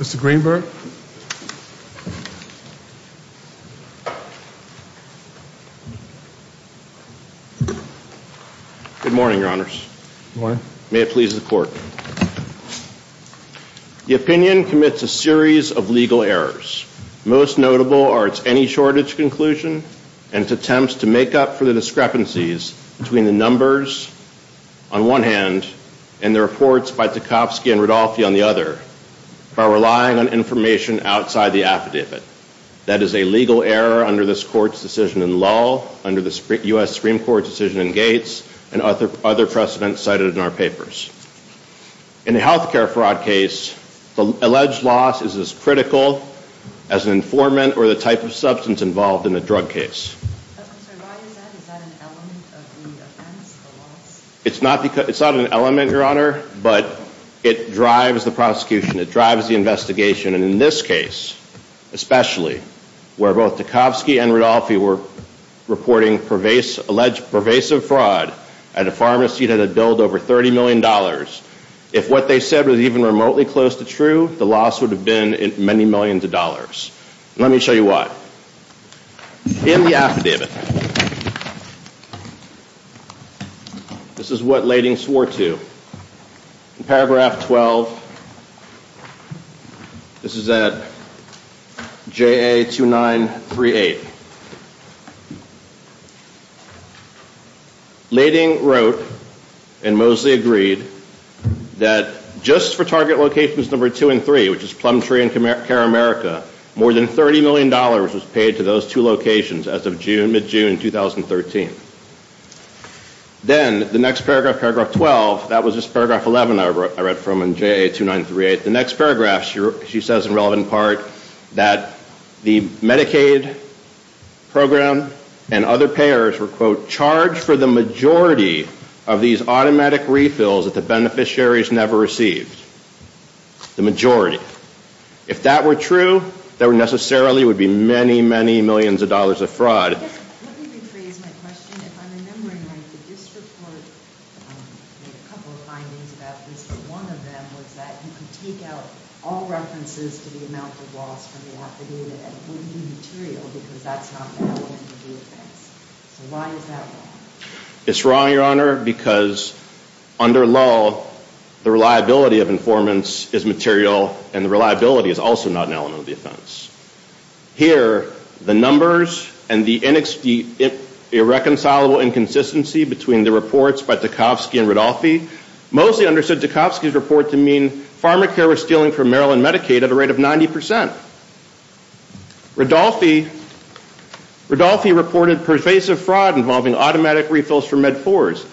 Mr. Greenberg. Good morning, your honors. May it please the court. The opinion commits a series of legal errors. Most notable are its any shortage conclusion and its attempts to make up for the discrepancies between the numbers on one hand and the reports by Tchaikovsky and Rodolfi on the other by relying on information outside the affidavit. That is a legal error under this court's decision in lull, under the U.S. Supreme Court's decision in Gates and other precedents cited in our papers. In a healthcare fraud case, the alleged loss is as critical as an informant or the type of substance involved in a drug case. It's not an element, your honor, but it drives the prosecution. It drives the investigation. And in this case, especially, where both Tchaikovsky and Rodolfi were reporting alleged pervasive fraud at a pharmacy that had billed over $30 million, if what they said was even remotely close to true, the loss would have been many millions of dollars. Let me show you why. In the affidavit, this is what Leighton swore to. In paragraph 12, this is at JA 2938. Leighton wrote and Mosley agreed that just for target locations number two and three, which is Plum Tree and Care America, more than $30 million was paid to those two locations as of June, mid-June 2013. Then the next paragraph, paragraph 12, that was just paragraph 11 I read from in JA 2938. The next paragraph, she says in relevant part, that the Medicaid program and other payers were, quote, charged for the majority of these automatic refills that the beneficiaries never received. The majority. If that were true, there necessarily would be many, many millions of dollars of fraud. It's wrong, Your Honor, because under law, the reliability of informants is material and the reliability is also not an element of the offense. Here, the numbers and the irreconcilable inconsistency between the reports by Tchaikovsky and Rodolphe mostly understood Tchaikovsky's report to mean PharmaCare was stealing from Maryland Medicaid at a rate of 90%. Rodolphe reported pervasive fraud involving automatic refills for Med Fours.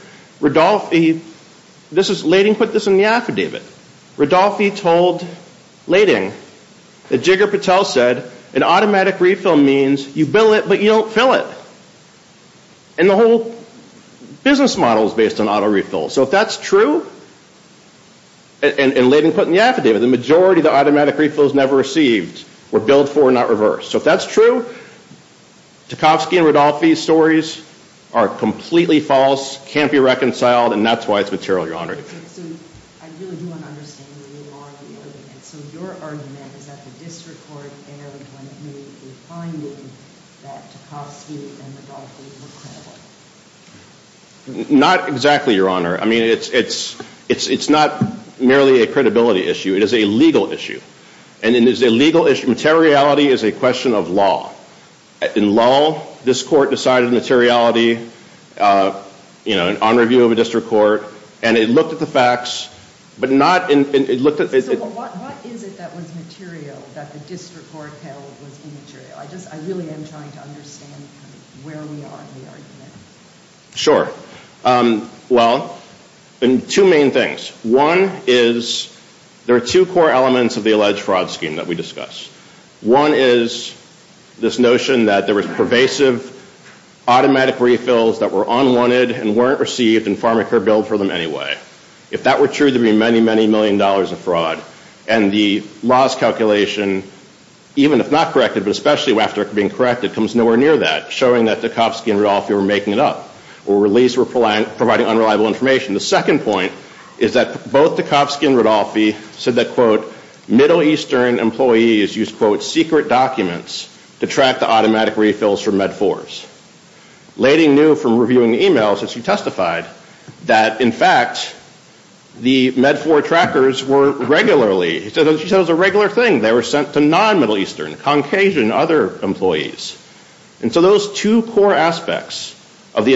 Rodolphe, Leighton put this in the affidavit. Rodolphe told Leighton that Jigar Patel said an automatic refill means you bill it but you don't fill it. And the whole business model is based on auto refills. So if that's true, and Leighton put in the affidavit, the majority of the automatic refills never received were billed for and not reversed. So if that's true, Tchaikovsky and Rodolphe's stories are completely false, can't be reconciled, and that's why it's material, Your Honor. Not exactly, Your Honor. I mean, it's not merely a credibility issue. It is a legal issue. And it is a legal issue. Materiality is a question of law. In law, this court decided materiality, you know, on review of a district court, and it looked at the facts, but not in... So what is it that was material that the district court held was immaterial? I really am trying to understand where we are in the argument. Sure. Well, two main things. One is there are two core elements of the alleged fraud scheme that we discussed. One is this notion that there was pervasive automatic refills that were unwanted and weren't received and Farmacare billed for them anyway. If that were true, there would be many, many million dollars in fraud. And the law's calculation, even if not corrected, but especially after it being corrected, comes nowhere near that, showing that Tchaikovsky and Rodolphe were making it up, or at least were providing unreliable information. The second point is that both Tchaikovsky and Rodolphe said that, quote, Middle Eastern employees used, quote, secret documents to track the automatic refills from Medfors. Lading knew from reviewing the emails that she testified that, in fact, the Medfors trackers were regularly, she said it was a regular thing, they were sent to non-Middle Eastern, Caucasian, other employees. And so those two core aspects of the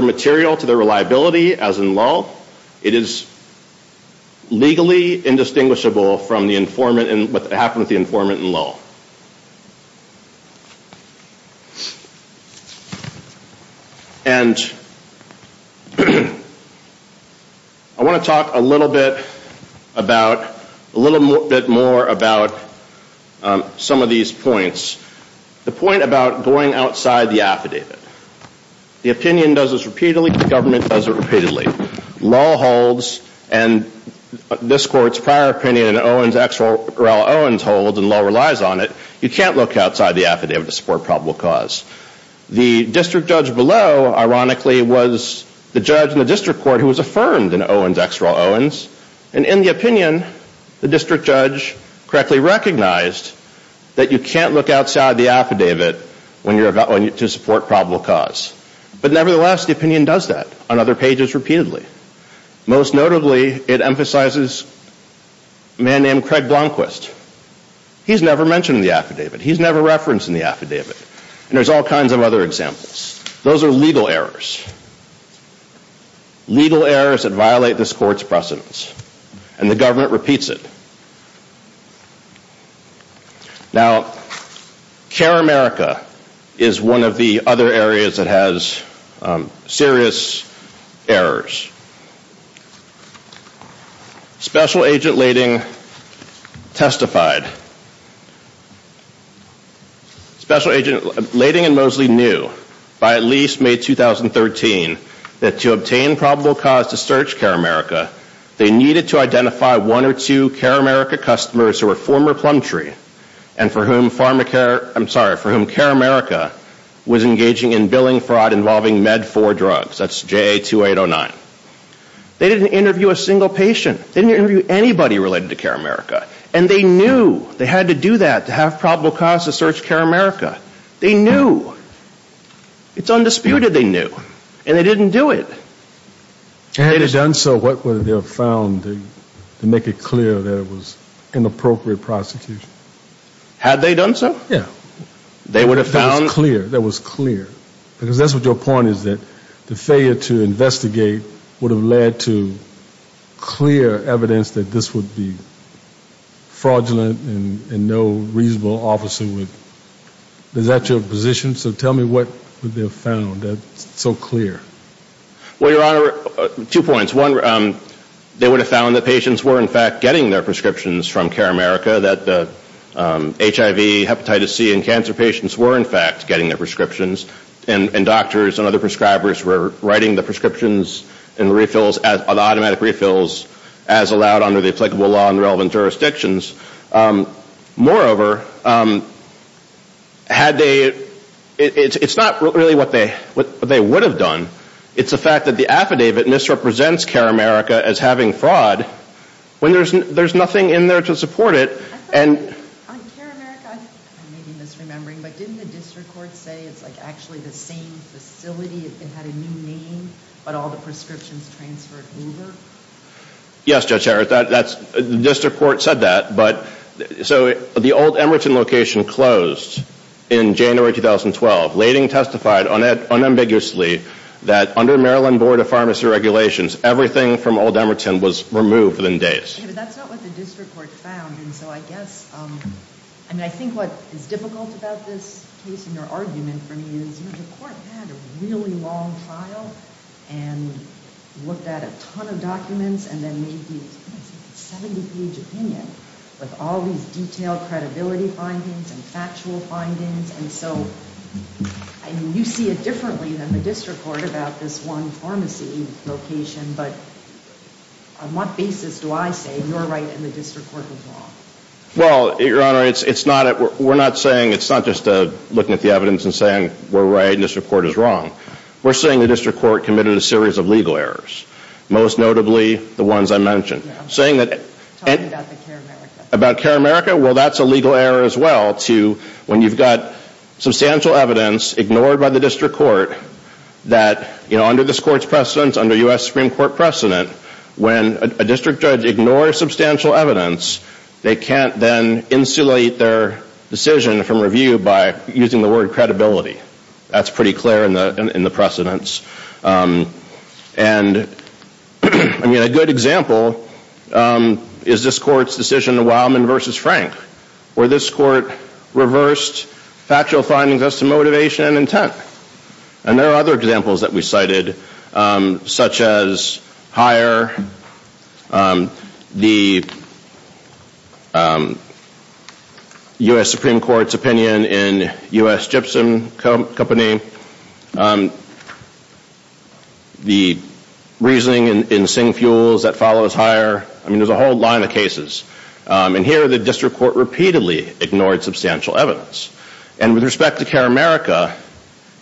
material to their reliability, as in lull, it is legally indistinguishable from the informant and what happened with the informant in lull. And I want to talk a little bit about, a little bit more about some of these points. The point about going outside the affidavit. The opinion does this repeatedly, the government does it repeatedly. Lull holds, and this court's prior opinion in Owens X. Rowell Owens holds, and lull relies on it, you can't look outside the affidavit to support probable cause. The district judge below, ironically, was the judge in the district court who was affirmed in Owens X. Rowell Owens, and in the opinion, the district judge correctly recognized that you can't look outside the affidavit to support probable cause. But nevertheless, the opinion does that on other pages repeatedly. Most notably, it emphasizes a man named Craig Blomquist. He's never mentioned in the affidavit. He's never referenced in the affidavit. And there's all kinds of other examples. Those are legal errors. Legal errors that violate this court's precedence. And the government repeats it. Now, Care America is one of the other areas that has serious errors. Special Agent Lading testified. Special Agent Lading and Mosley knew by at least May 2013 that to obtain probable cause to search Care America, they needed to identify one or two Care America customers who were former plum tree, and for whom PharmaCare, I'm sorry, for whom Care America was engaging in billing fraud involving Med 4 drugs. That's JA2809. They didn't interview a single patient. They didn't interview anybody related to Care America. And they knew they had to do that to have probable cause to search Care America. They knew. It's undisputed they knew. And they didn't do it. Had they done so, what would they have found to make it clear that it was inappropriate prosecution? Had they done so? Yeah. They would have found That was clear. That was clear. Because that's what your point is, that the failure to investigate would have led to clear evidence that this would be fraudulent and no reasonable officer would, is that your position? So tell me what would they have found that's so clear? Well, Your Honor, two points. One, they would have found that patients were in fact getting their prescriptions from Care America. That the HIV, hepatitis C and cancer patients were in fact getting their prescriptions. And doctors and other prescribers were writing the prescriptions and refills, automatic refills as allowed under the applicable law in relevant jurisdictions. Moreover, had they, it's not really what they would have done. It's the fact that the affidavit misrepresents Care America as having fraud when there's nothing in there to support it. I thought you said on Care America, I may be misremembering, but didn't the district court say it's like actually the same facility, it had a new name, but all the prescriptions transferred over? Yes, Judge Harris, that's, the district court said that, but, so the old Emerton location closed in January 2012. Lading testified unambiguously that under Maryland Board of Pharmacy Regulations, everything from old Emerton was removed within days. Yeah, but that's not what the district court found, and so I guess, I mean, I think what is difficult about this case and your argument for me is, you know, the court had a really long trial and looked at a ton of documents and then made these 70 page opinion with all these detailed credibility findings and factual findings, and so, I mean, you see it today and you're right and the district court is wrong. Well, Your Honor, it's not, we're not saying, it's not just looking at the evidence and saying we're right and the district court is wrong. We're saying the district court committed a series of legal errors, most notably the ones I mentioned. Yeah, I'm talking about the Care America. About Care America? Well, that's a legal error as well to, when you've got substantial evidence ignored by the district court, that, you know, under this court's precedence, under U.S. Supreme Court precedent, when a district judge ignores substantial evidence, they can't then insulate their decision from review by using the word credibility. That's pretty clear in the precedence. And, I mean, a good example is this court's decision, Wildman v. Frank, where this court reversed factual findings as to credibility. And there are other examples that we cited, such as Hire, the U.S. Supreme Court's opinion in U.S. Gypsum Company, the reasoning in Sing Fuels that follows Hire. I mean, there's a whole line of cases. And here the district court repeatedly ignored substantial evidence. And with respect to Care America,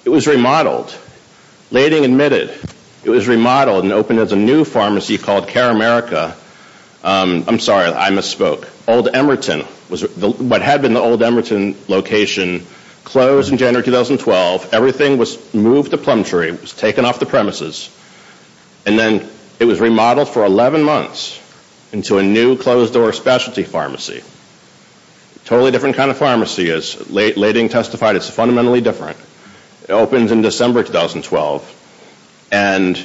it was remodeled. Lading admitted it was remodeled and opened as a new pharmacy called Care America. I'm sorry, I misspoke. Old Emerton, what had been the Old Emerton location, closed in January 2012. Everything was moved to Plumtree. It was taken off the premises. And then it was remodeled for 11 months into a new closed-door specialty pharmacy. Totally different kind of pharmacy. As Lading testified, it's fundamentally different. It opened in December 2012. And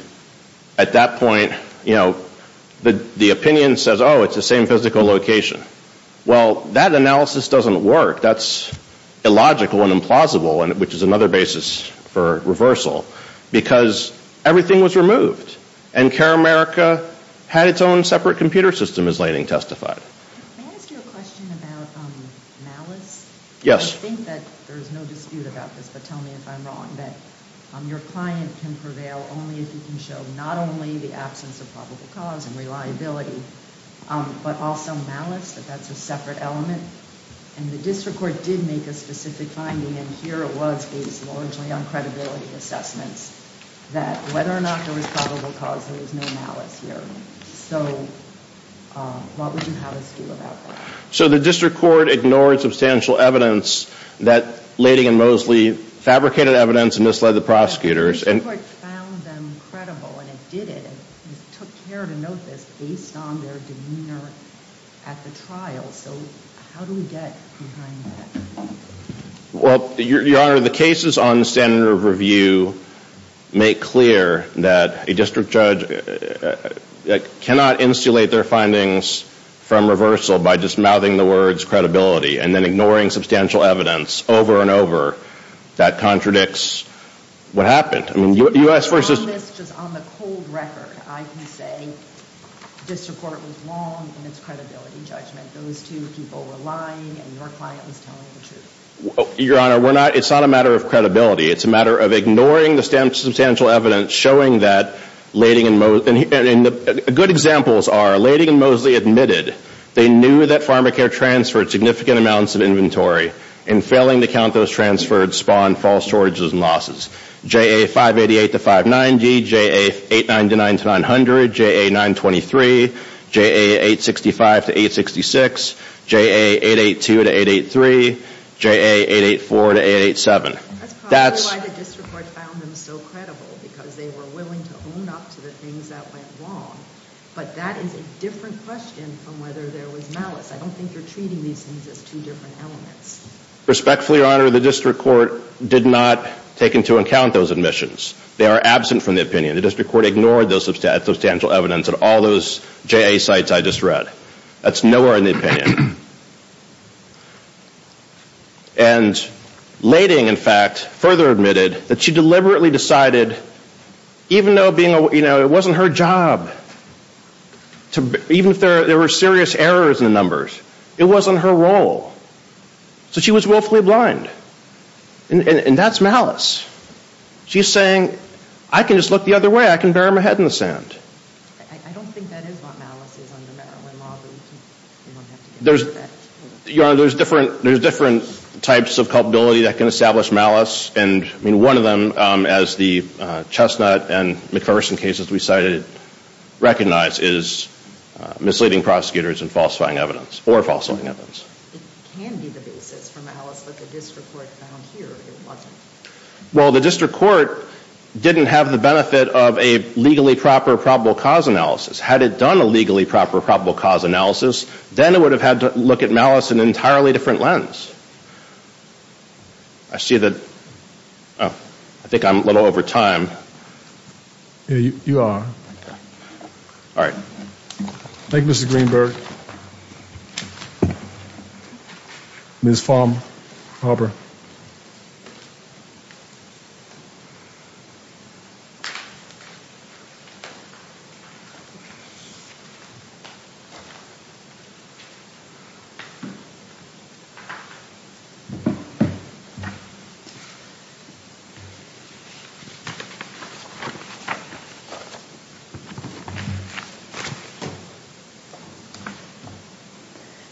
at that point, you know, the opinion says, oh, it's the same physical location. Well, that analysis doesn't work. That's illogical and implausible, which is another basis for reversal. Because everything was removed. And Care America had its own separate computer system, as Lading testified. May I ask you a question about malice? Yes. I think that there's no dispute about this, but tell me if I'm wrong, that your client can prevail only if you can show not only the absence of probable cause and reliability, but also malice, that that's a separate element. And the district court did make a specific finding, and here it was based largely on credibility assessments, that whether or not there was probable cause, there was no malice here. So what would you have us do about that? So the district court ignored substantial evidence that Lading and Mosley fabricated evidence and misled the prosecutors. The district court found them credible, and it did it. It took care to note this based on their demeanor at the trial. So how do we get behind that? Well, Your Honor, the cases on the standard of review make clear that a district judge cannot insulate their findings from reversal by just mouthing the words credibility and then ignoring substantial evidence over and over that contradicts what happened. I mean, you asked for... On this, just on the cold record, I can say the district court was wrong in its credibility judgment. Those two people were lying, and your client was telling the truth. Your Honor, it's not a matter of credibility. It's a matter of ignoring the substantial evidence showing that Lading and Mosley... Good examples are Lading and Mosley admitted they knew that Pharmacare transferred significant amounts of inventory and failing to count those transfers spawned false shortages and losses. JA 588 to 590, JA 899 to 900, JA 923, JA 865 to 866, JA 882 to 883, JA 884 to 887. That's probably why the district court found them so credible because they were willing to own up to the things that went wrong. But that is a different question from whether there was malice. I don't think you're treating these things as two different elements. Respectfully, Your Honor, the district court did not take into account those admissions. They are absent from the opinion. The district court ignored the substantial evidence and all those JA sites I just read. That's nowhere in the opinion. And Lading, in fact, further admitted that she deliberately decided, even though it wasn't her job, even if there were serious errors in the numbers, it wasn't her role. So she was willfully blind. And that's malice. She's saying, I can just look the other way. I can bury my head in the sand. I don't think that is what malice is under Maryland law. Your Honor, there's different types of culpability that can establish malice. And one of them, as the Chestnut and McPherson cases we cited recognize, is misleading prosecutors and falsifying evidence. Or falsifying evidence. It can be the basis for malice, but the district court found here it wasn't. Well, the district court didn't have the benefit of a legally proper probable cause analysis. Had it done a legally proper probable cause analysis, then it would have had to look at malice in an entirely different lens. I see that, oh, I think I'm a little over time. You are. All right. Thank you, Mr. Greenberg. Thank you, Mr. Greenberg. Ms. Farm Harbor.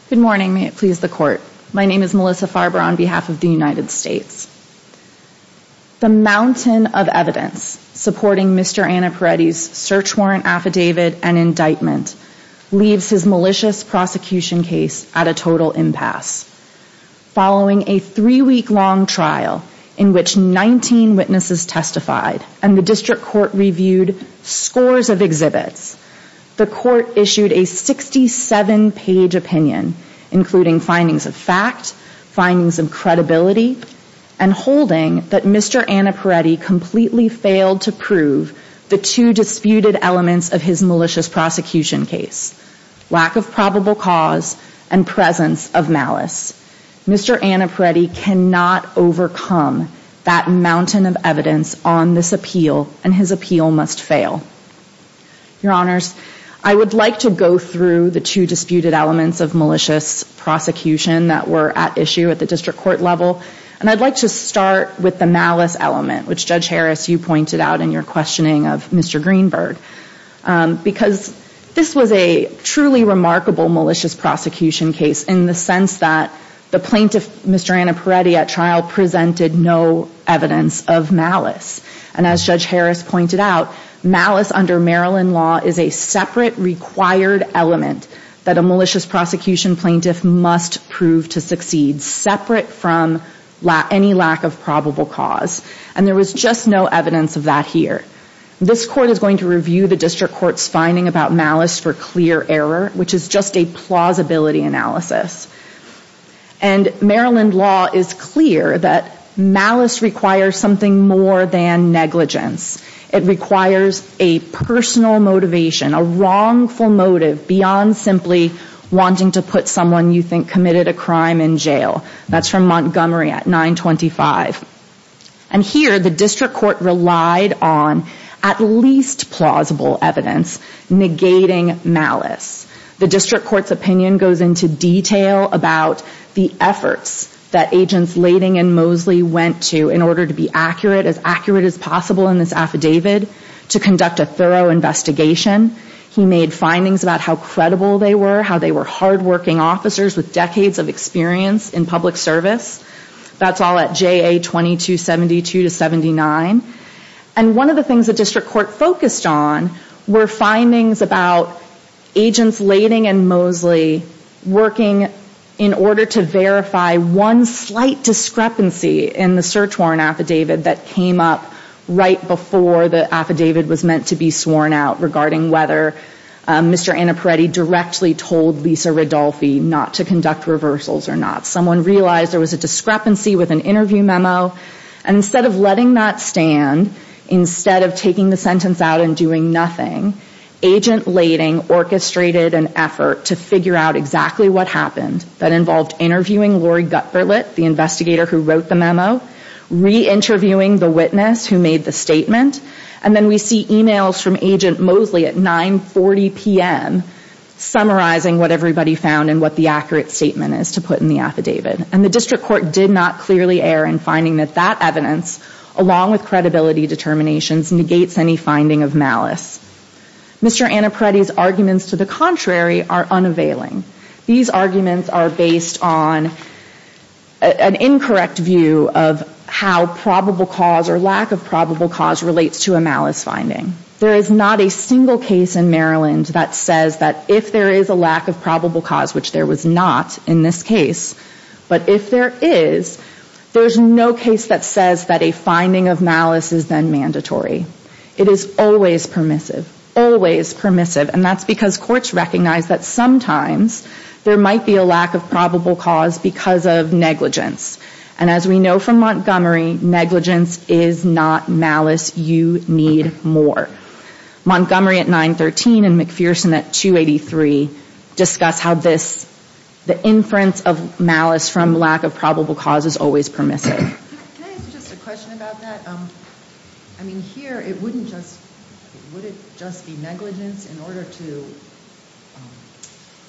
Good morning. May it please the court. My name is Melissa Farber on behalf of the United States. The mountain of evidence supporting Mr. Annaparetti's search warrant affidavit and indictment leaves his malicious prosecution case at a total impasse. Following a three week long trial in which 19 witnesses testified and the district court reviewed scores of exhibits, the court issued a 67 page opinion including findings of fact, findings of credibility, and holding that Mr. Annaparetti completely failed to prove the two disputed elements of his malicious prosecution case, lack of probable cause, and presence of malice. Mr. Annaparetti cannot overcome that mountain of evidence on this appeal and his appeal must fail. Your honors, I would like to go through the two disputed elements of malicious prosecution that were at issue at the district court level and I'd like to start with the malice element which Judge Harris, you pointed out in your questioning of Mr. Greenberg. Because this was a truly remarkable malicious prosecution case in the sense that the plaintiff, Mr. Annaparetti, at trial presented no evidence of malice. And as Judge Harris pointed out, malice under Maryland law is a separate required element that a malicious prosecution plaintiff must prove to succeed, separate from any lack of probable cause. And there was just no evidence of that here. This court is going to review the district court's finding about malice for clear error which is just a plausibility analysis. And Maryland law is clear that malice requires something more than negligence. It requires a personal motivation, a wrongful motive beyond simply wanting to put someone you think committed a crime in jail. That's from Montgomery at 925. And here the district court relied on at least plausible evidence negating malice. The district court's opinion goes into detail about the efforts that Agents Lading and Mosley went to in order to be accurate, as accurate as possible in this affidavit, to conduct a thorough investigation. He made findings about how credible they were, how they were hard-working officers with decades of experience in public service. That's all at JA 2272-79. And one of the things the district court focused on were findings about Agents Lading and Mosley working in order to verify one slight discrepancy in the search warrant affidavit that came up right before the affidavit was meant to be sworn out regarding whether Mr. Annaparetti directly told Lisa Ridolfi not to conduct reversals or not. Someone realized there was a discrepancy with an interview memo, and instead of letting that stand, instead of taking the sentence out and doing nothing, Agent Lading orchestrated an effort to figure out exactly what happened that involved interviewing Lori Gutberlit, the investigator who wrote the memo, re-interviewing the witness who made the statement, and then we see emails from Agent Mosley at 9.40 p.m. summarizing what everybody found and what the accurate statement is to put in the affidavit. And the district court did not clearly err in finding that that evidence, along with credibility determinations, negates any finding of malice. Mr. Annaparetti's arguments to the contrary are unavailing. These arguments are based on an incorrect view of how probable cause or lack of probable cause relates to a malice finding. There is not a single case in Maryland that says that if there is a lack of probable cause, which there was not in this case, but if there is, there's no case that says that a finding of malice is then mandatory. It is always permissive. Always permissive. And that's because courts recognize that sometimes there might be a lack of probable cause because of negligence. And as we know from Montgomery, negligence is not malice. You need more. Montgomery at 9.13 and McPherson at 2.83 discuss how the inference of malice from lack of probable cause is always permissive. Can I ask just a question about that? I mean, here, it wouldn't just, would it just be negligence? In order to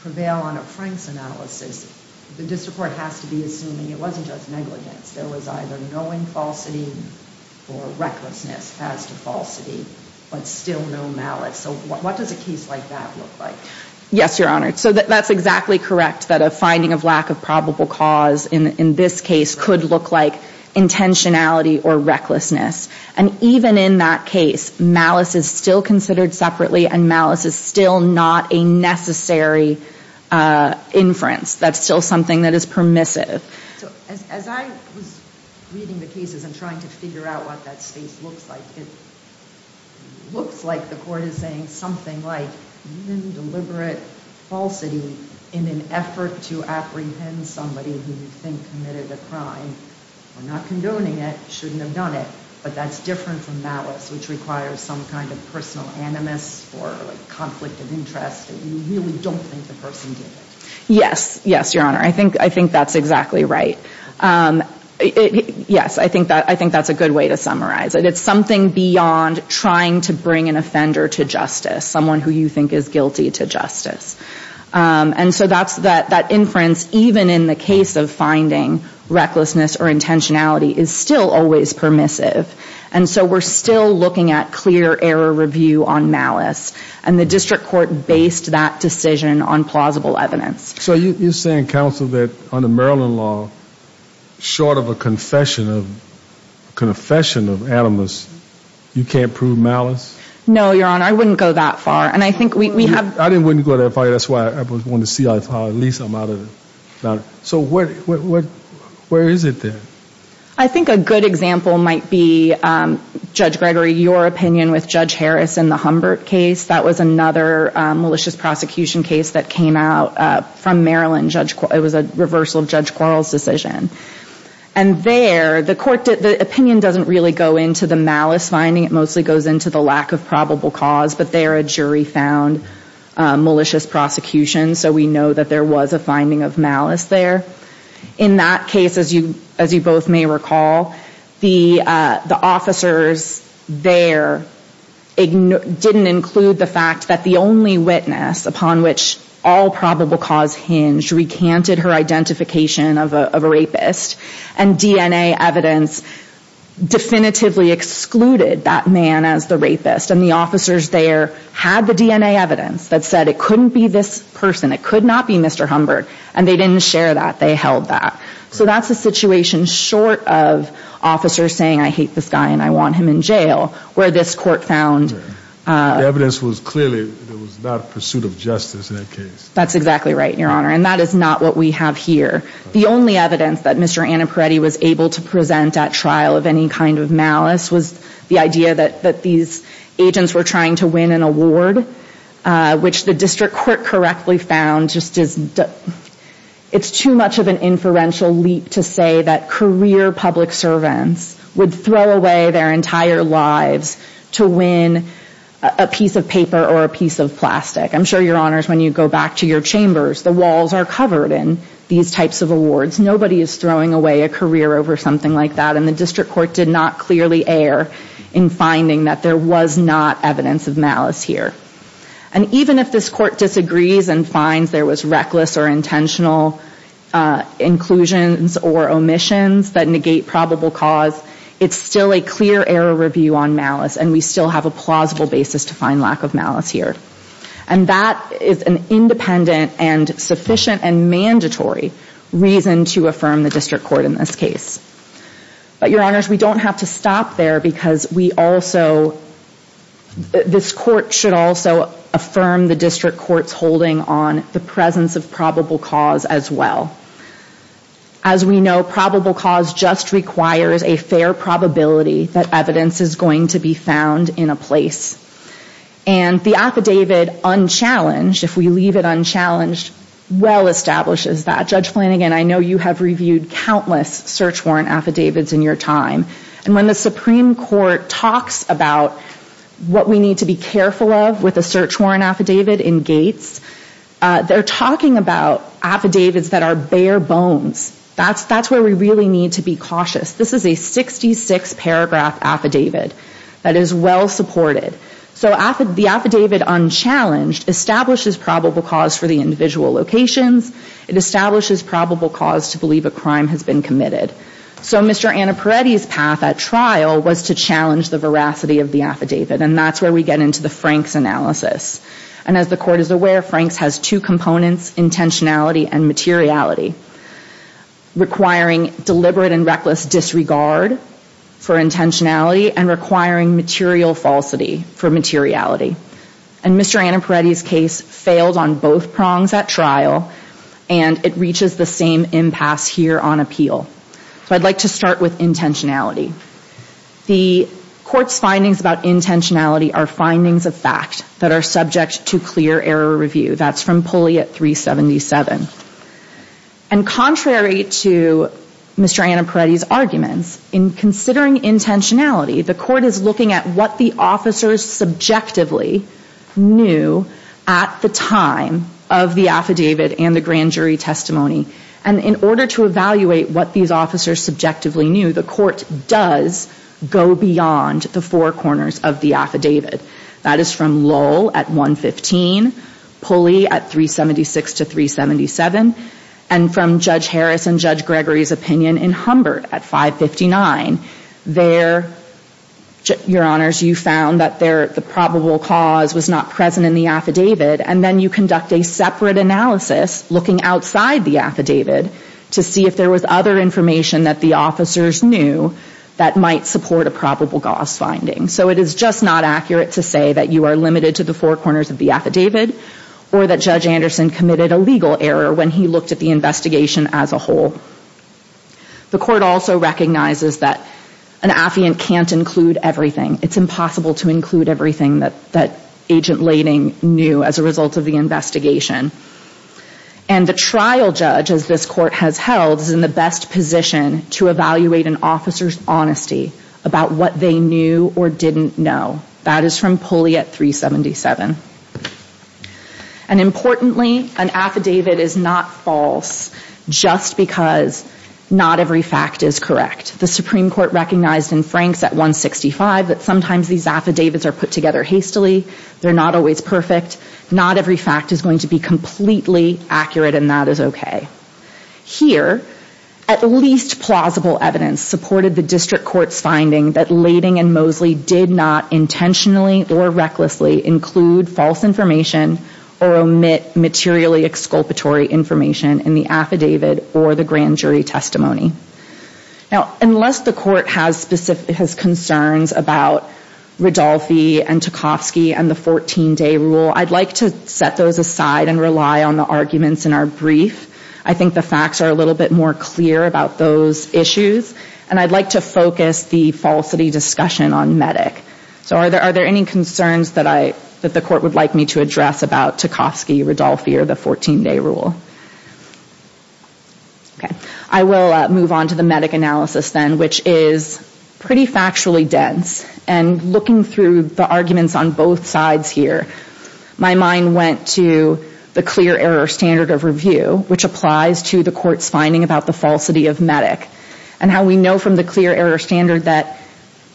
prevail on a Frank's analysis, the district court has to be assuming it wasn't just negligence. There was either knowing falsity or recklessness as to falsity, but still no malice. So what does a case like that look like? Yes, Your Honor. So that's exactly correct, that a finding of lack of probable cause in this case could look like intentionality or recklessness. And even in that case, malice is still considered separately and malice is still not a necessary inference. That's still something that is permissive. So as I was reading the cases and trying to figure out what that space looks like, it looks like the court is saying something like even deliberate falsity in an effort to apprehend somebody who you think committed a crime, we're not condoning it, shouldn't have done it, but that's different from malice, which requires some kind of personal animus or conflict of interest that you really don't think the person did it. Yes, yes, Your Honor. I think that's exactly right. Yes, I think that's a good way to summarize it. It's something beyond trying to bring an offender to justice, someone who you think is guilty to justice. And so that inference, even in the case of finding recklessness or intentionality, is still always permissive. And so we're still looking at clear error review on malice. And the district court based that decision on plausible evidence. So you're saying, counsel, that under Maryland law, short of a confession of animus, you can't prove malice? No, Your Honor. I wouldn't go that far. And I think we have... I wouldn't go that far. That's why I wanted to see how at least I'm out of it. So where is it there? I think a good example might be, Judge Gregory, your opinion with Judge Harris in the Humbert case. That was another malicious prosecution case that came out from Maryland. It was a reversal of Judge Quarles' decision. And there, the opinion doesn't really go into the malice finding. It mostly goes into the lack of probable cause. But there, a jury found malicious prosecution. So we know that there was a finding of malice there. In that case, as you both may recall, the officers there didn't include the fact that the only witness upon which all probable cause hinged recanted her identification of a rapist. And DNA evidence definitively excluded that man as the rapist. And the officers there had the DNA evidence that said it couldn't be this person. It could not be Mr. Humbert. And they didn't share that. They held that. So that's a situation short of officers saying, I hate this guy and I want him in jail, where this court found... The evidence was clearly there was not a pursuit of justice in that case. That's exactly right, Your Honor. And that is not what we have here. The only evidence that Mr. Annaparetti was able to present at trial of any kind of malice was the idea that these agents were trying to win an award, which the district court correctly found just is... It's too much of an inferential leap to say that career public servants would throw away their entire lives to win a piece of paper or a piece of plastic. I'm sure, Your Honors, when you go back to your chambers, the walls are covered in these types of awards. Nobody is throwing away a career over something like that. And the district court did not clearly err in finding that there was not evidence of malice here. And even if this court disagrees and finds there was reckless or intentional inclusions or omissions that negate probable cause, it's still a clear error review on malice, and we still have a plausible basis to find lack of malice here. And that is an independent and sufficient and mandatory reason to affirm the district court in this case. But, Your Honors, we don't have to stop there because we also... This court should also affirm the district court's holding on the presence of probable cause as well. As we know, probable cause just requires a fair probability that evidence is going to be found in a place. And the affidavit unchallenged, if we leave it unchallenged, well establishes that. Judge Flanagan, I know you have reviewed countless search warrant affidavits in your time. And when the Supreme Court talks about what we need to be careful of with a search warrant affidavit in Gates, they're talking about affidavits that are bare bones. That's where we really need to be cautious. This is a 66-paragraph affidavit that is well supported. So the affidavit unchallenged establishes probable cause for the individual locations. It establishes probable cause to believe a crime has been committed. So Mr. Annaparetti's path at trial was to challenge the veracity of the affidavit. And that's where we get into the Franks analysis. And as the court is aware, Franks has two components, intentionality and materiality, requiring deliberate and reckless disregard for intentionality and requiring material falsity for materiality. And Mr. Annaparetti's case failed on both prongs at trial and it reaches the same impasse here on appeal. So I'd like to start with intentionality. The court's findings about intentionality are findings of fact that are subject to clear error review. That's from Pulley at 377. And contrary to Mr. Annaparetti's arguments, in considering intentionality, the court is looking at what the officers subjectively knew at the time of the affidavit and the grand jury testimony. And in order to evaluate what these officers subjectively knew, the court does go beyond the four corners of the affidavit. That is from Lull at 115, Pulley at 376 to 377, and from Judge Harris and Judge Gregory's opinion in Humber at 559. There, Your Honors, you found that the probable cause was not present in the affidavit and then you conduct a separate analysis looking outside the affidavit to see if there was other information that the officers knew that might support a probable cause finding. So it is just not accurate to say that you are limited to the four corners of the affidavit or that Judge Anderson committed a legal error when he looked at the investigation as a whole. The court also recognizes that an affidavit can't include everything. It's impossible to include everything that Agent Lading knew as a result of the investigation. And the trial judge, as this court has held, is in the best position to evaluate an officer's honesty about what they knew or didn't know. That is from Pulley at 377. And importantly, an affidavit is not false just because not every fact is correct. The Supreme Court recognized in Franks at 165 that sometimes these affidavits are put together hastily. They're not always perfect. Not every fact is going to be completely accurate and that is okay. Here, at least plausible evidence supported the District Court's finding that Lading and Mosley did not intentionally or recklessly include false information or omit materially exculpatory information in the affidavit or the grand jury testimony. Now, unless the court has specific concerns about Rodolfi and Tarkovsky and the 14-day rule, I'd like to set those aside and rely on the arguments in our brief. I think the facts are a little bit more clear about those issues and I'd like to focus the falsity discussion on Medic. So are there any concerns that the court would like me to address about Tarkovsky, Rodolfi, or the 14-day rule? Okay. I will move on to the Medic analysis then, which is pretty factually dense. And looking through the arguments on both sides here, my mind went to the clear error standard of review, which applies to the court's finding about the falsity of Medic. And how we know from the clear error standard that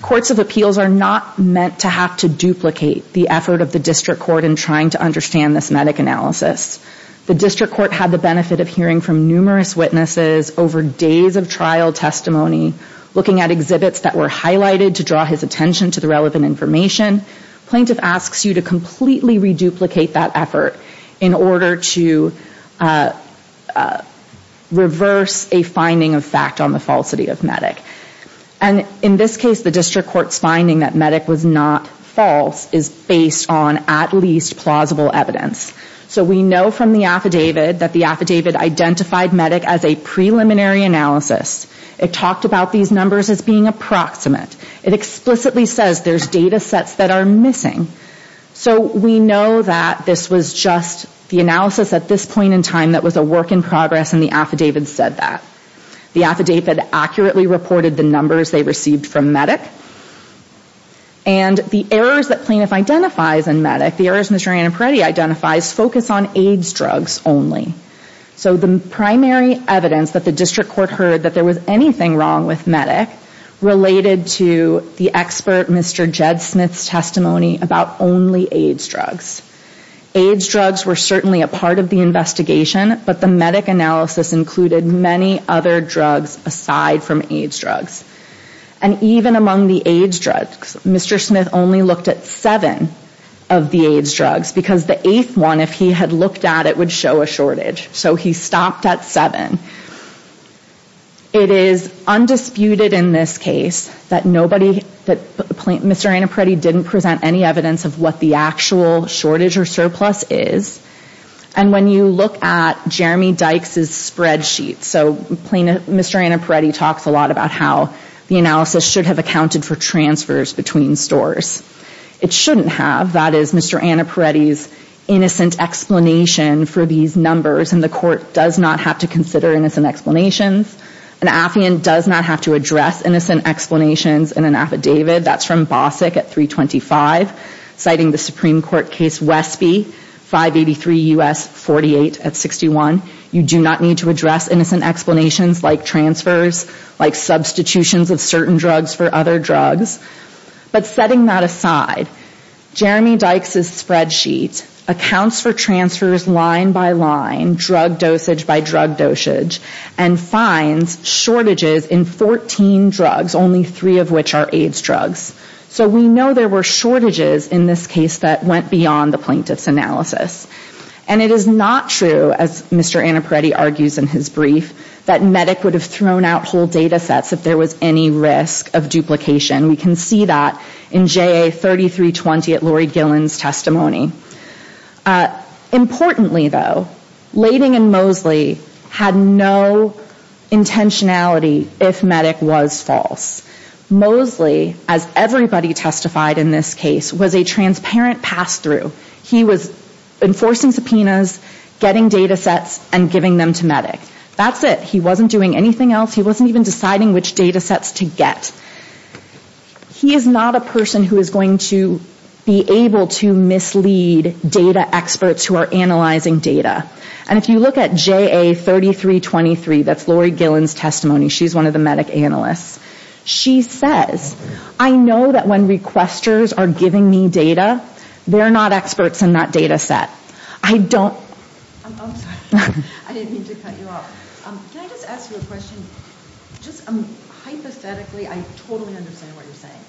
courts of appeals are not meant to have to duplicate the effort of the district court in trying to understand this Medic analysis. The district court had the benefit of hearing from numerous witnesses over days of trial testimony, looking at exhibits that were highlighted to draw his attention to the relevant information. Plaintiff asks you to completely reduplicate that effort in order to reverse a finding of fact on the falsity of Medic. And in this case, the district court's finding that Medic was not false is based on at least plausible evidence. So we know from the affidavit that the affidavit identified Medic as a preliminary analysis. It talked about these numbers as being approximate. It explicitly says there's data sets that are missing. So we know that this was just the analysis at this point in time that was a work in progress and the affidavit said that. The affidavit accurately reported the numbers they received from Medic. And the errors that plaintiff identifies in Medic, the errors Mr. Annaparetti identifies, focus on AIDS drugs only. So the primary evidence that the district court heard that there was anything wrong with Medic related to the expert Mr. Jed Smith's testimony about only AIDS drugs. AIDS drugs were certainly a part of the investigation, but the Medic analysis included many other drugs aside from AIDS drugs. And even among the AIDS drugs, Mr. Smith only looked at seven of the AIDS drugs because the eighth one, if he had looked at it, would show a shortage. So he stopped at seven. It is undisputed in this case that Mr. Annaparetti didn't present any evidence of what the actual shortage or surplus is. And when you look at Jeremy Dykes' spreadsheet, so Mr. Annaparetti talks a lot about how the analysis should have accounted for transfers between stores. It shouldn't have. That is Mr. Annaparetti's innocent explanation for these numbers and the court does not have to consider innocent explanations. An affiant does not have to address innocent explanations in an affidavit. That's from Bossack at 325, citing the Supreme Court case Westby, 583 U.S., 48 at 61. You do not need to address innocent explanations like transfers, like substitutions of certain drugs for other drugs. But setting that aside, Jeremy Dykes' spreadsheet accounts for transfers line by line, drug dosage by drug dosage, and finds shortages in 14 drugs, only three of which are AIDS drugs. So we know there were shortages in this case that went beyond the plaintiff's analysis. And it is not true, as Mr. Annaparetti argues in his brief, that Medic would have thrown out whole data sets if there was any risk of duplication. We can see that in JA 3320 at Lori Gillen's testimony. Importantly, though, Lading and Mosley had no intentionality if Medic was false. Mosley, as everybody testified in this case, was a transparent pass-through. He was enforcing subpoenas, getting data sets, and giving them to Medic. That's it. He wasn't doing anything else. He wasn't even deciding which data sets to get. He is not a person who is going to be able to mislead data experts who are analyzing data. And if you look at JA 3323, that's Lori Gillen's testimony. She's one of the Medic analysts. She says, I know that when requesters are giving me data, they're not experts in that data set. I don't... I'm sorry. I didn't mean to cut you off. Can I just ask you a question? Just hypothetically, I totally understand what you're saying.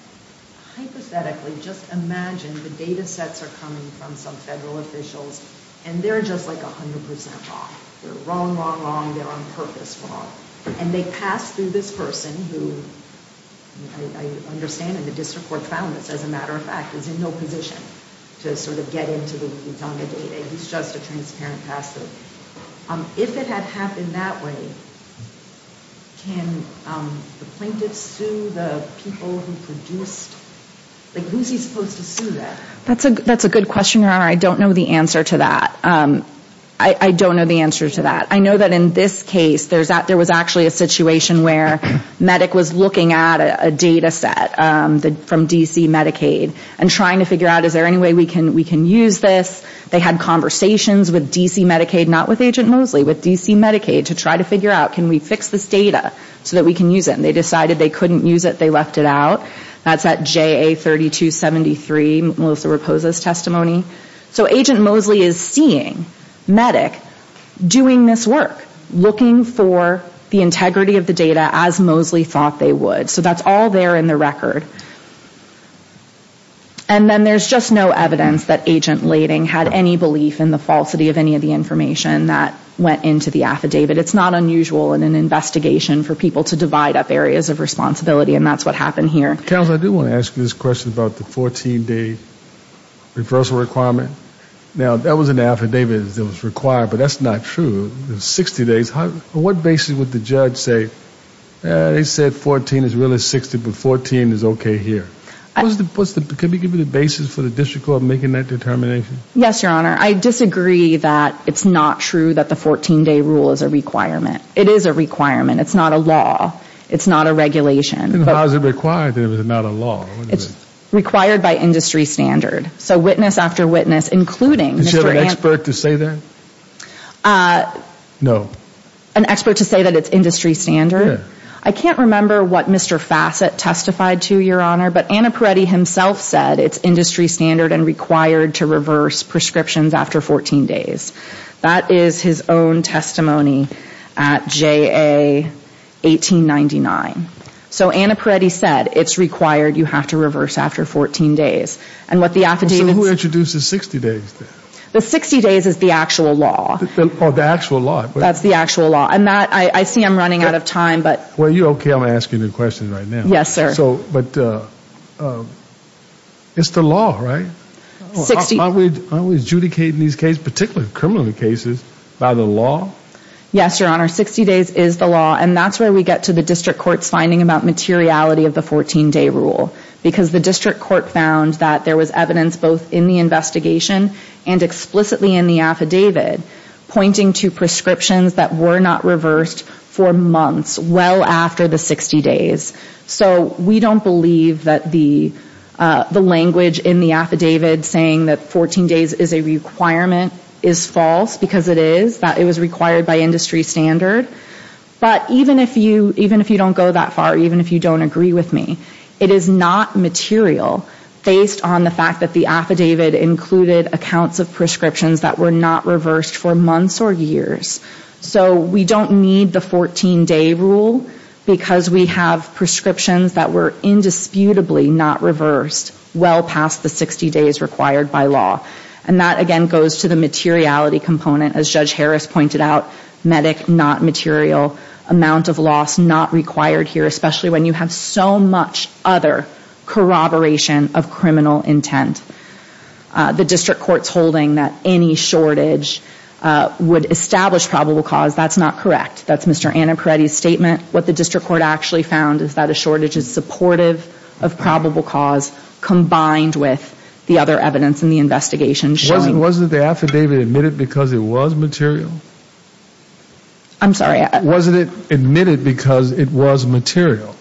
Hypothetically, just imagine the data sets are coming from some federal officials, and they're just like 100% wrong. They're wrong, wrong, wrong. They're on purpose wrong. And they pass through this person who, I understand, in the district court found this, as a matter of fact, is in no position to sort of get into the data. He's just a transparent pass-through. If it had happened that way, can the plaintiffs sue the people who produced... Like, who's he supposed to sue then? That's a good question, Your Honor. I don't know the answer to that. I don't know the answer to that. I know that in this case, there was actually a situation where Medic was looking at a data set from D.C. Medicaid and trying to figure out, is there any way we can use this? They had conversations with D.C. Medicaid, not with Agent Mosley, with D.C. Medicaid, to try to figure out, can we fix this data so that we can use it? And they decided they couldn't use it. They left it out. That's at JA-3273, Melissa Raposa's testimony. So Agent Mosley is seeing Medic doing this work, looking for the integrity of the data as Mosley thought they would. So that's all there in the record. And then there's just no evidence that Agent Lading had any belief in the falsity of any of the information that went into the affidavit. It's not unusual in an investigation for people to divide up areas of responsibility, and that's what happened here. Counsel, I do want to ask you this question about the 14-day reversal requirement. Now, that was an affidavit that was required, but that's not true. The 60 days, on what basis would the judge say, they said 14 is really 60, but 14 is okay here? Can you give me the basis for the district court making that determination? Yes, Your Honor. I disagree that it's not true that the 14-day rule is a requirement. It is a requirement. It's not a law. It's not a regulation. Then how is it required that it was not a law? It's required by industry standard. So witness after witness, including Mr. An— Does he have an expert to say that? No. An expert to say that it's industry standard? Yes. I can't remember what Mr. Fassett testified to, Your Honor, but Anna Peretti himself said it's industry standard and required to reverse prescriptions after 14 days. That is his own testimony at JA 1899. So Anna Peretti said it's required you have to reverse after 14 days. And what the affidavit— So who introduces 60 days? The 60 days is the actual law. Oh, the actual law. That's the actual law. And Matt, I see I'm running out of time, but— Well, you're okay. I'm asking the question right now. Yes, sir. So, but it's the law, right? 60— Aren't we adjudicating these cases, particularly criminal cases, by the law? Yes, Your Honor. 60 days is the law, and that's where we get to the district court's finding about materiality of the 14-day rule because the district court found that there was evidence both in the investigation and explicitly in the affidavit pointing to prescriptions that were not reversed for months well after the 60 days. So we don't believe that the language in the affidavit saying that 14 days is a requirement is false because it is, that it was required by industry standard. But even if you don't go that far, even if you don't agree with me, it is not material based on the fact that the affidavit included accounts of prescriptions that were not reversed for months or years. So we don't need the 14-day rule because we have prescriptions that were indisputably not reversed well past the 60 days required by law. And that, again, goes to the materiality component. As Judge Harris pointed out, medic, not material, amount of loss not required here, especially when you have so much other corroboration of criminal intent. The district court's holding that any shortage would establish probable cause, that's not correct. That's Mr. Annaparetti's statement. What the district court actually found is that a shortage is supportive of probable cause combined with the other evidence in the investigation. Wasn't the affidavit admitted because it was material? I'm sorry? Wasn't it admitted because it was material?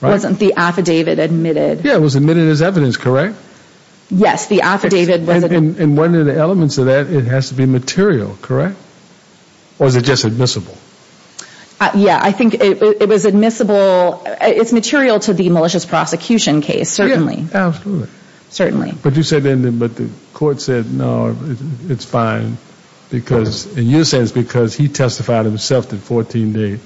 Wasn't the affidavit admitted? Yeah, it was admitted as evidence, correct? Yes, the affidavit was admitted. And one of the elements of that, it has to be material, correct? Or is it just admissible? Yeah, I think it was admissible. It's material to the malicious prosecution case, certainly. But you said, but the court said, no, it's fine because, and you're saying it's because he testified himself that 14-day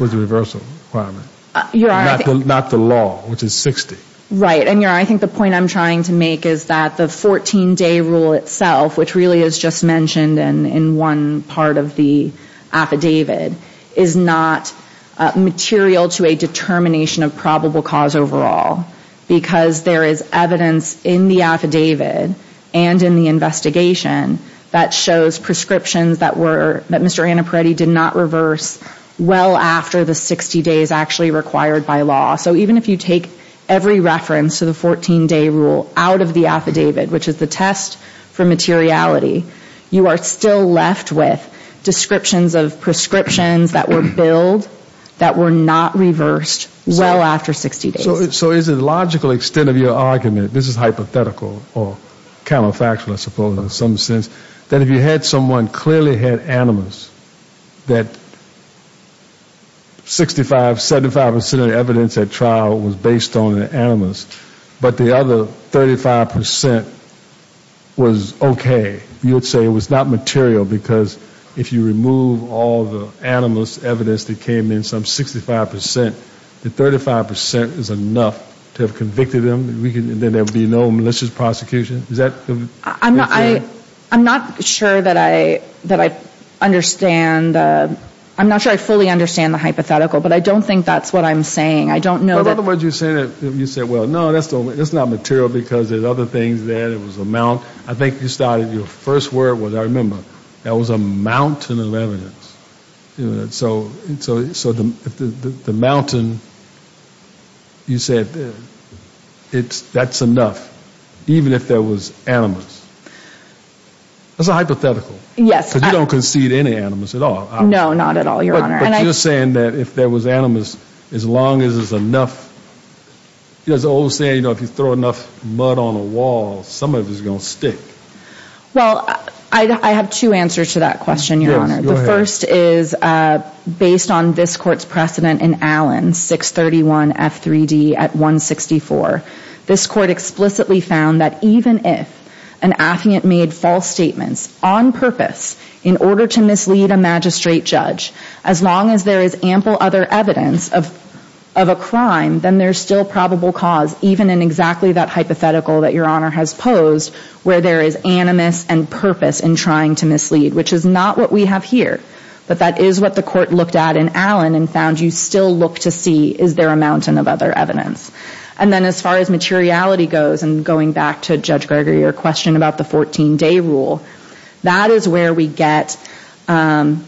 was a reversal requirement. Not the law, which is 60. Right, and I think the point I'm trying to make is that the 14-day rule itself, which really is just mentioned in one part of the affidavit, is not material to a determination of probable cause overall because there is evidence in the affidavit and in the investigation that shows prescriptions that Mr. Annapuredi did not reverse well after the 60 days actually required by law. So even if you take every reference to the 14-day rule out of the affidavit, which is the test for materiality, you are still left with descriptions of prescriptions that were billed that were not reversed well after 60 days. So is it logical extent of your argument, this is hypothetical or counterfactual I suppose in some sense, that if you had someone clearly had animus, that 65, 75% of the evidence at trial was based on the animus, but the other 35% was okay? You would say it was not material because if you remove all the animus evidence that came in, some 65%, the 35% is enough to have convicted them? Then there would be no malicious prosecution? I'm not sure that I understand. I'm not sure I fully understand the hypothetical, but I don't think that's what I'm saying. In other words, you say, well, no, that's not material because there's other things there. I think you started, your first word was, I remember, that was a mountain of evidence. So the mountain, you said, that's enough, even if there was animus. That's a hypothetical. Yes. Because you don't concede any animus at all. No, not at all, Your Honor. But you're saying that if there was animus, as long as there's enough, it's the old saying, if you throw enough mud on a wall, some of it is going to stick. Well, I have two answers to that question, Your Honor. The first is based on this court's precedent in Allen, 631 F3D at 164. This court explicitly found that even if an affiant made false statements on purpose in order to mislead a magistrate judge, as long as there is ample other evidence of a crime, then there's still probable cause, even in exactly that hypothetical that Your Honor has posed, where there is animus and purpose in trying to mislead, which is not what we have here. But that is what the court looked at in Allen and found you still look to see is there a mountain of other evidence. And then as far as materiality goes, and going back to, Judge Gregory, your question about the 14-day rule, that is where we get the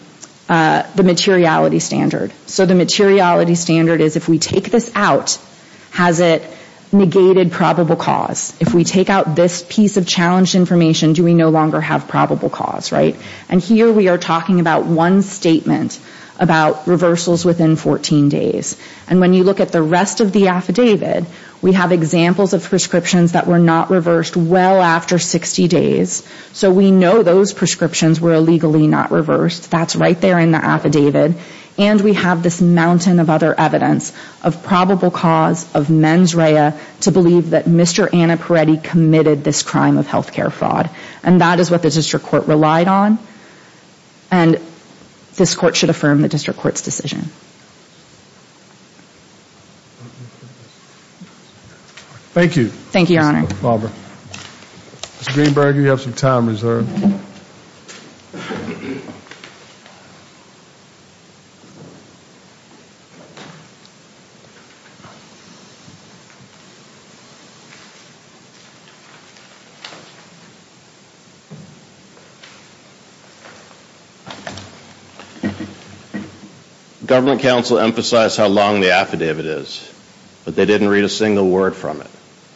materiality standard. So the materiality standard is if we take this out, has it negated probable cause? If we take out this piece of challenged information, do we no longer have probable cause, right? And here we are talking about one statement about reversals within 14 days. And when you look at the rest of the affidavit, we have examples of prescriptions that were not reversed well after 60 days. So we know those prescriptions were illegally not reversed. That's right there in the affidavit. And we have this mountain of other evidence of probable cause, of mens rea, to believe that Mr. Annaparetti committed this crime of healthcare fraud. And that is what the district court relied on. And this court should affirm the district court's decision. Thank you. Thank you, Your Honor. Mr. Greenberg, you have some time reserved. Government counsel emphasized how long the affidavit is, but they didn't read a single word from it.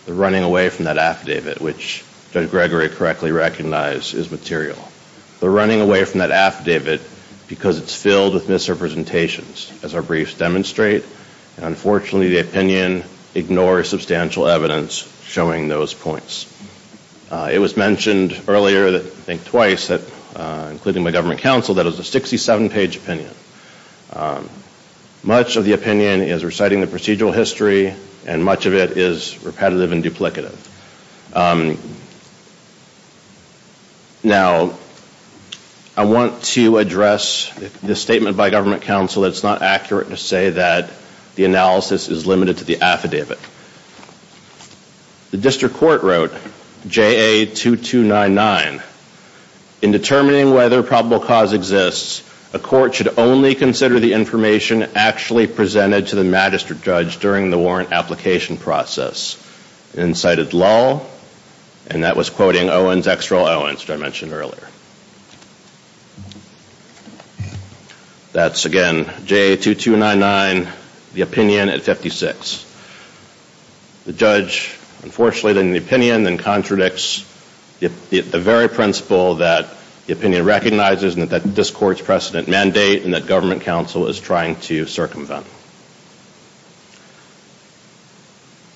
They're running away from that affidavit, which Judge Gregory correctly recognized is material. They're running away from that affidavit because it's filled with misrepresentations, as our briefs demonstrate. And unfortunately, the opinion ignores substantial evidence showing those points. It was mentioned earlier, I think twice, including by government counsel, that it was a 67-page opinion. Much of the opinion is reciting the procedural history, and much of it is repetitive and duplicative. Now, I want to address this statement by government counsel. It's not accurate to say that the analysis is limited to the affidavit. The district court wrote, J.A. 2299, in determining whether probable cause exists, a court should only consider the information actually presented to the magistrate judge during the warrant application process. It incited lull, and that was quoting Owens, ex-Royal Owens, which I mentioned earlier. That's, again, J.A. 2299, the opinion at 56. The judge, unfortunately, then the opinion then contradicts the very principle that the opinion recognizes and that this court's precedent mandate and that government counsel is trying to circumvent.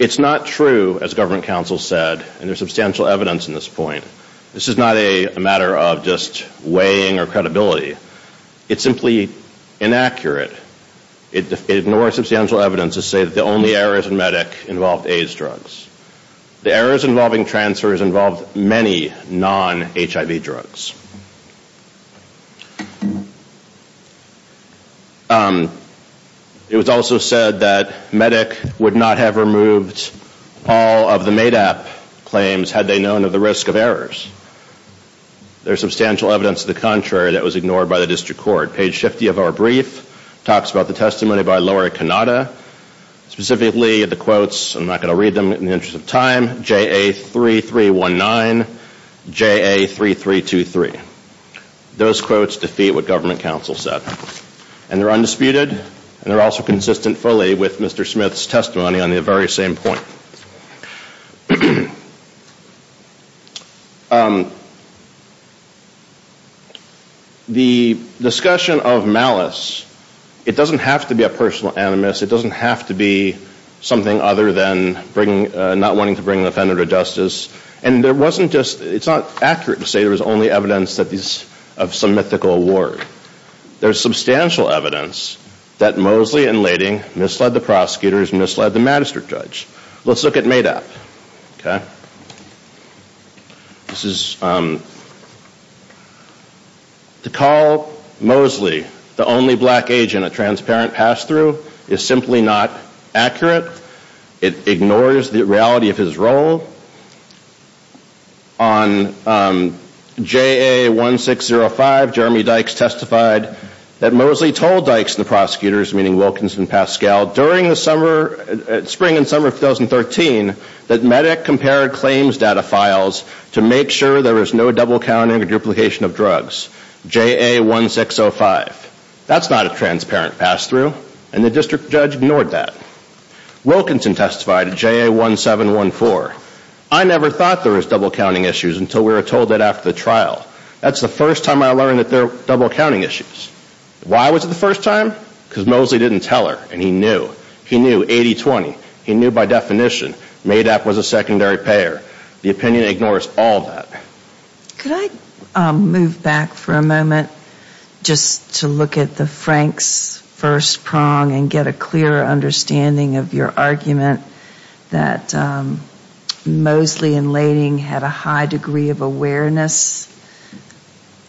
It's not true, as government counsel said, and there's substantial evidence in this point. This is not a matter of just weighing or credibility. It's simply inaccurate. It ignores substantial evidence to say that the only errors in MEDIC involved AIDS drugs. The errors involving transfers involved many non-HIV drugs. It was also said that MEDIC would not have removed all of the MADAP claims, had they known of the risk of errors. There's substantial evidence to the contrary that was ignored by the district court. Page 50 of our brief talks about the testimony by Lori Cannata. Specifically, the quotes, I'm not going to read them in the interest of time, J.A. 3319, J.A. 3323. Those quotes defeat what government counsel said, and they're undisputed, and they're also consistent fully with Mr. Smith's testimony on the very same point. The discussion of malice, it doesn't have to be a personal animus. It doesn't have to be something other than not wanting to bring an offender to justice, and it's not accurate to say there's only evidence of some mythical award. There's substantial evidence that Mosley and Leading misled the prosecutors, and misled the Madison judge. Let's look at MADAP. To call Mosley the only black agent, a transparent pass-through, is simply not accurate. It ignores the reality of his role. On J.A. 1605, Jeremy Dykes testified that Mosley told Dykes and the prosecutors, meaning Wilkinson and Pascal, during the spring and summer of 2013, that MADAP compared claims data files to make sure there was no double-counting or duplication of drugs. J.A. 1605. That's not a transparent pass-through, and the district judge ignored that. Wilkinson testified at J.A. 1714. I never thought there was double-counting issues until we were told that after the trial. That's the first time I learned that there were double-counting issues. Why was it the first time? Because Mosley didn't tell her, and he knew. He knew 80-20. He knew by definition MADAP was a secondary payer. The opinion ignores all that. Could I move back for a moment just to look at the Franks' first prong and get a clearer understanding of your argument that Mosley and Lading had a high degree of awareness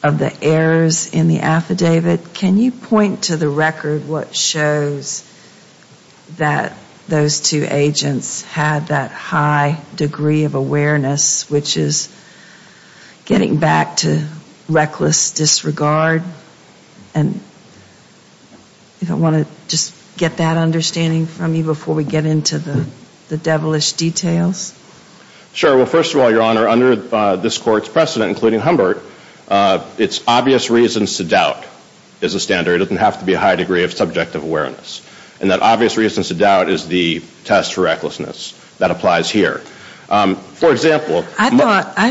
of the errors in the affidavit? Can you point to the record what shows that those two agents had that high degree of awareness, which is getting back to reckless disregard? And if I want to just get that understanding from you before we get into the devilish details? Sure. Well, first of all, Your Honor, under this Court's precedent, including Humbert, it's obvious reasons to doubt as a standard. It doesn't have to be a high degree of subjective awareness. And that obvious reasons to doubt is the test for recklessness. That applies here. I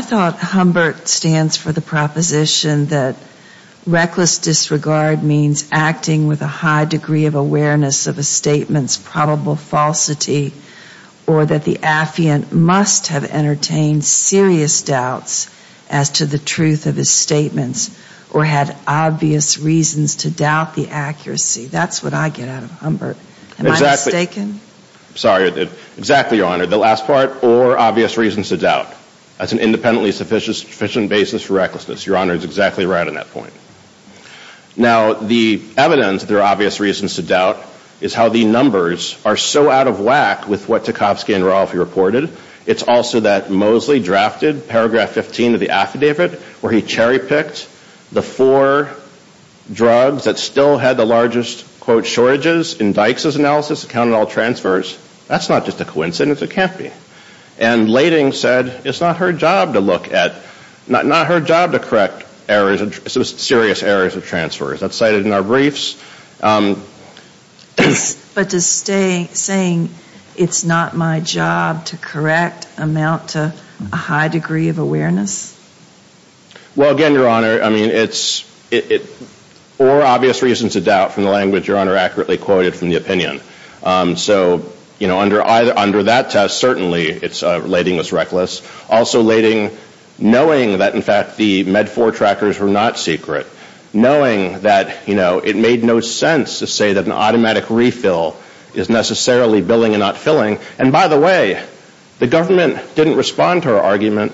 thought Humbert stands for the proposition that reckless disregard means acting with a high degree of awareness of a statement's probable falsity, or that the affiant must have entertained serious doubts as to the truth of his statements, or had obvious reasons to doubt the accuracy. That's what I get out of Humbert. Am I mistaken? I'm sorry. Exactly, Your Honor. The last part, or obvious reasons to doubt as an independently sufficient basis for recklessness. Your Honor is exactly right on that point. Now, the evidence that there are obvious reasons to doubt is how the numbers are so out of whack with what Tchaikovsky and Ralphie reported. It's also that Mosley drafted paragraph 15 of the affidavit where he cherry-picked the four drugs that still had the largest, quote, shortages in Dykes' analysis, and counted all transfers. That's not just a coincidence. It can't be. And Lading said it's not her job to look at, not her job to correct errors, serious errors of transfers. That's cited in our briefs. But does saying it's not my job to correct amount to a high degree of awareness? Well, again, Your Honor, I mean, it's, or obvious reasons to doubt from the language Your Honor accurately quoted from the opinion. So, you know, under that test, certainly, Lading was reckless. Also, Lading, knowing that, in fact, the Med 4 trackers were not secret, knowing that, you know, it made no sense to say that an automatic refill is necessarily billing and not filling. And by the way, the government didn't respond to her argument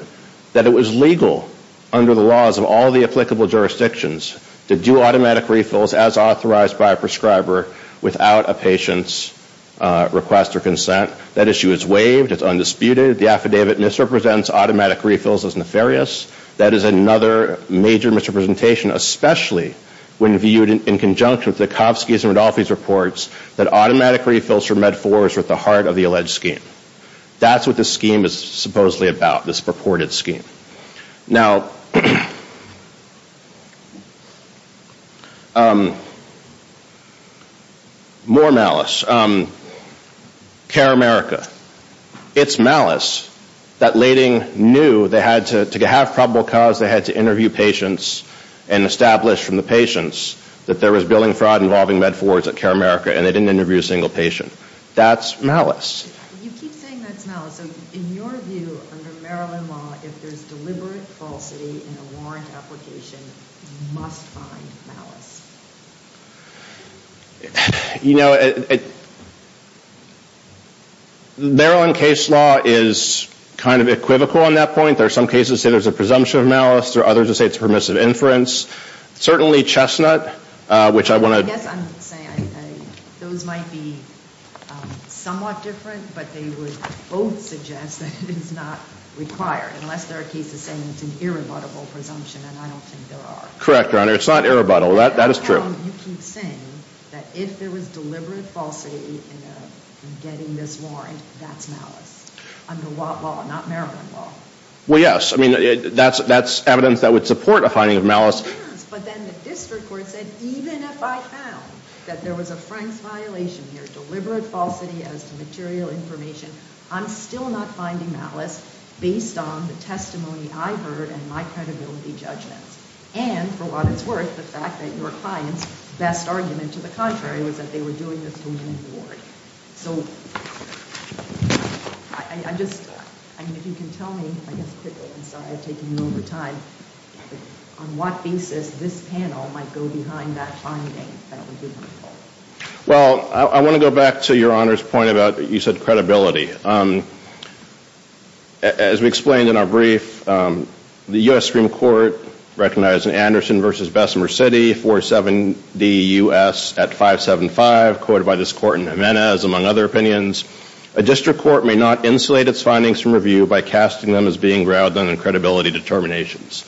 that it was legal, under the laws of all the applicable jurisdictions, to do automatic refills as authorized by a prescriber without a patient's request or consent. That issue is waived. It's undisputed. The affidavit misrepresents automatic refills as nefarious. That is another major misrepresentation, especially when viewed in conjunction with the Kavskis and Rodolfi's reports that automatic refills for Med 4 is at the heart of the alleged scheme. That's what this scheme is supposedly about, this purported scheme. More malice. Care America. It's malice that Lading knew they had to, to have probable cause, they had to interview patients and establish from the patients that there was billing fraud involving Med 4s at Care America and they didn't interview a single patient. That's malice. You keep saying that's malice. In your view, under Maryland law, if there's deliberate falsity in a warrant application, you must find malice. You know, Maryland case law is kind of equivocal on that point. There are some cases that there's a presumption of malice. There are others that say it's permissive inference. Certainly Chestnut, which I want to... I guess I'm saying those might be somewhat different, but they would both suggest that it is not required, unless there are cases saying it's an irrebuttable presumption, and I don't think there are. Correct, Your Honor. It's not irrebuttable. That is true. You keep saying that if there was deliberate falsity in getting this warrant, that's malice. Under what law? Not Maryland law? Well, yes. I mean, that's evidence that would support a finding of malice. Yes, but then the district court said, even if I found that there was a Frank's violation here, deliberate falsity as to material information, I'm still not finding malice based on the testimony I heard and my credibility judgments. And for what it's worth, the fact that your client's best argument to the contrary was that they were doing this to win an award. So I just... I mean, if you can tell me, I guess quickly, I'm sorry I'm taking you over time, on what basis this panel might go behind that finding that would be helpful. Well, I want to go back to Your Honor's point about, you said credibility. As we explained in our brief, the U.S. Supreme Court recognized in Anderson v. Bessemer City, 470 U.S. at 575, quoted by this court in Jimenez, among other opinions, a district court may not insulate its findings from review by casting them as being grounded in credibility determinations.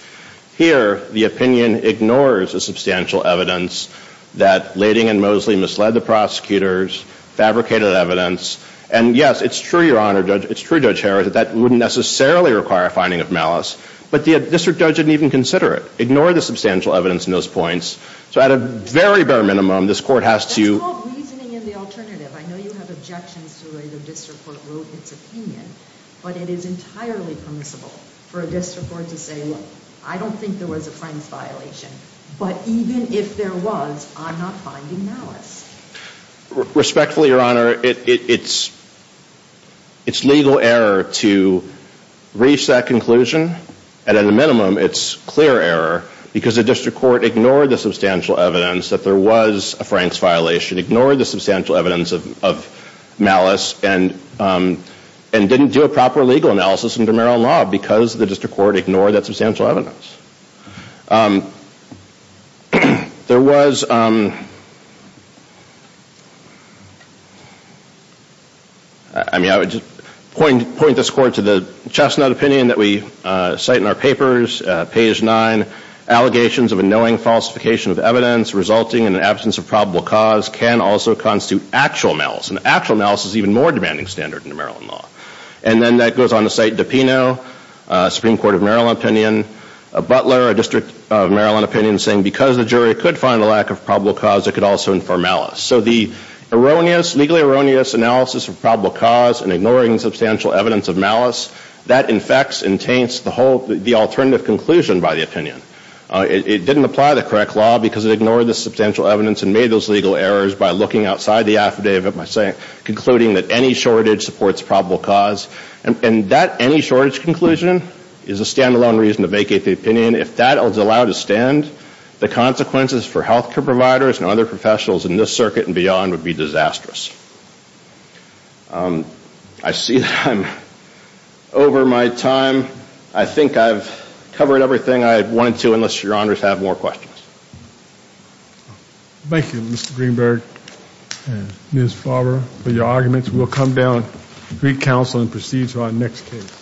Here, the opinion ignores the substantial evidence that Lading and Mosley misled the prosecutors, fabricated evidence, and yes, it's true, Your Honor, it's true, Judge Harris, that that wouldn't necessarily require a finding of malice, but the district judge didn't even consider it. Ignore the substantial evidence in those points. So at a very bare minimum, this court has to... That's called reasoning in the alternative. I know you have objections to the way the district court wrote its opinion, but it is entirely permissible for a district court to say, look, I don't think there was a crimes violation, but even if there was, I'm not finding malice. Respectfully, Your Honor, it's legal error to reach that conclusion, and at a minimum, it's clear error, because the district court ignored the substantial evidence that there was a Franks violation, ignored the substantial evidence of malice, and didn't do a proper legal analysis under Maryland law because the district court ignored that substantial evidence. There was... I mean, I would just point this court to the chestnut opinion that we cite in our papers, page nine, allegations of a knowing falsification of evidence resulting in an absence of probable cause can also constitute actual malice, and actual malice is even more demanding standard under Maryland law. And then that goes on to cite DePino, Supreme Court of Maryland opinion, Butler, a district of Maryland opinion, saying because the jury could find a lack of probable cause, it could also inform malice. So the erroneous, legally erroneous analysis of probable cause and ignoring substantial evidence of malice, that infects and taints the whole, the alternative conclusion by the opinion. It didn't apply to the correct law because it ignored the substantial evidence and made those legal errors by looking outside the affidavit, by concluding that any shortage supports probable cause. And that any shortage conclusion is a standalone reason to vacate the opinion. If that was allowed to stand, the consequences for healthcare providers and other professionals in this circuit and beyond would be disastrous. I see that I'm over my time. I think I've covered everything I wanted to, unless your honors have more questions. Thank you, Mr. Greenberg and Ms. Farber, for your arguments. We'll come down and read counsel and proceed to our next case.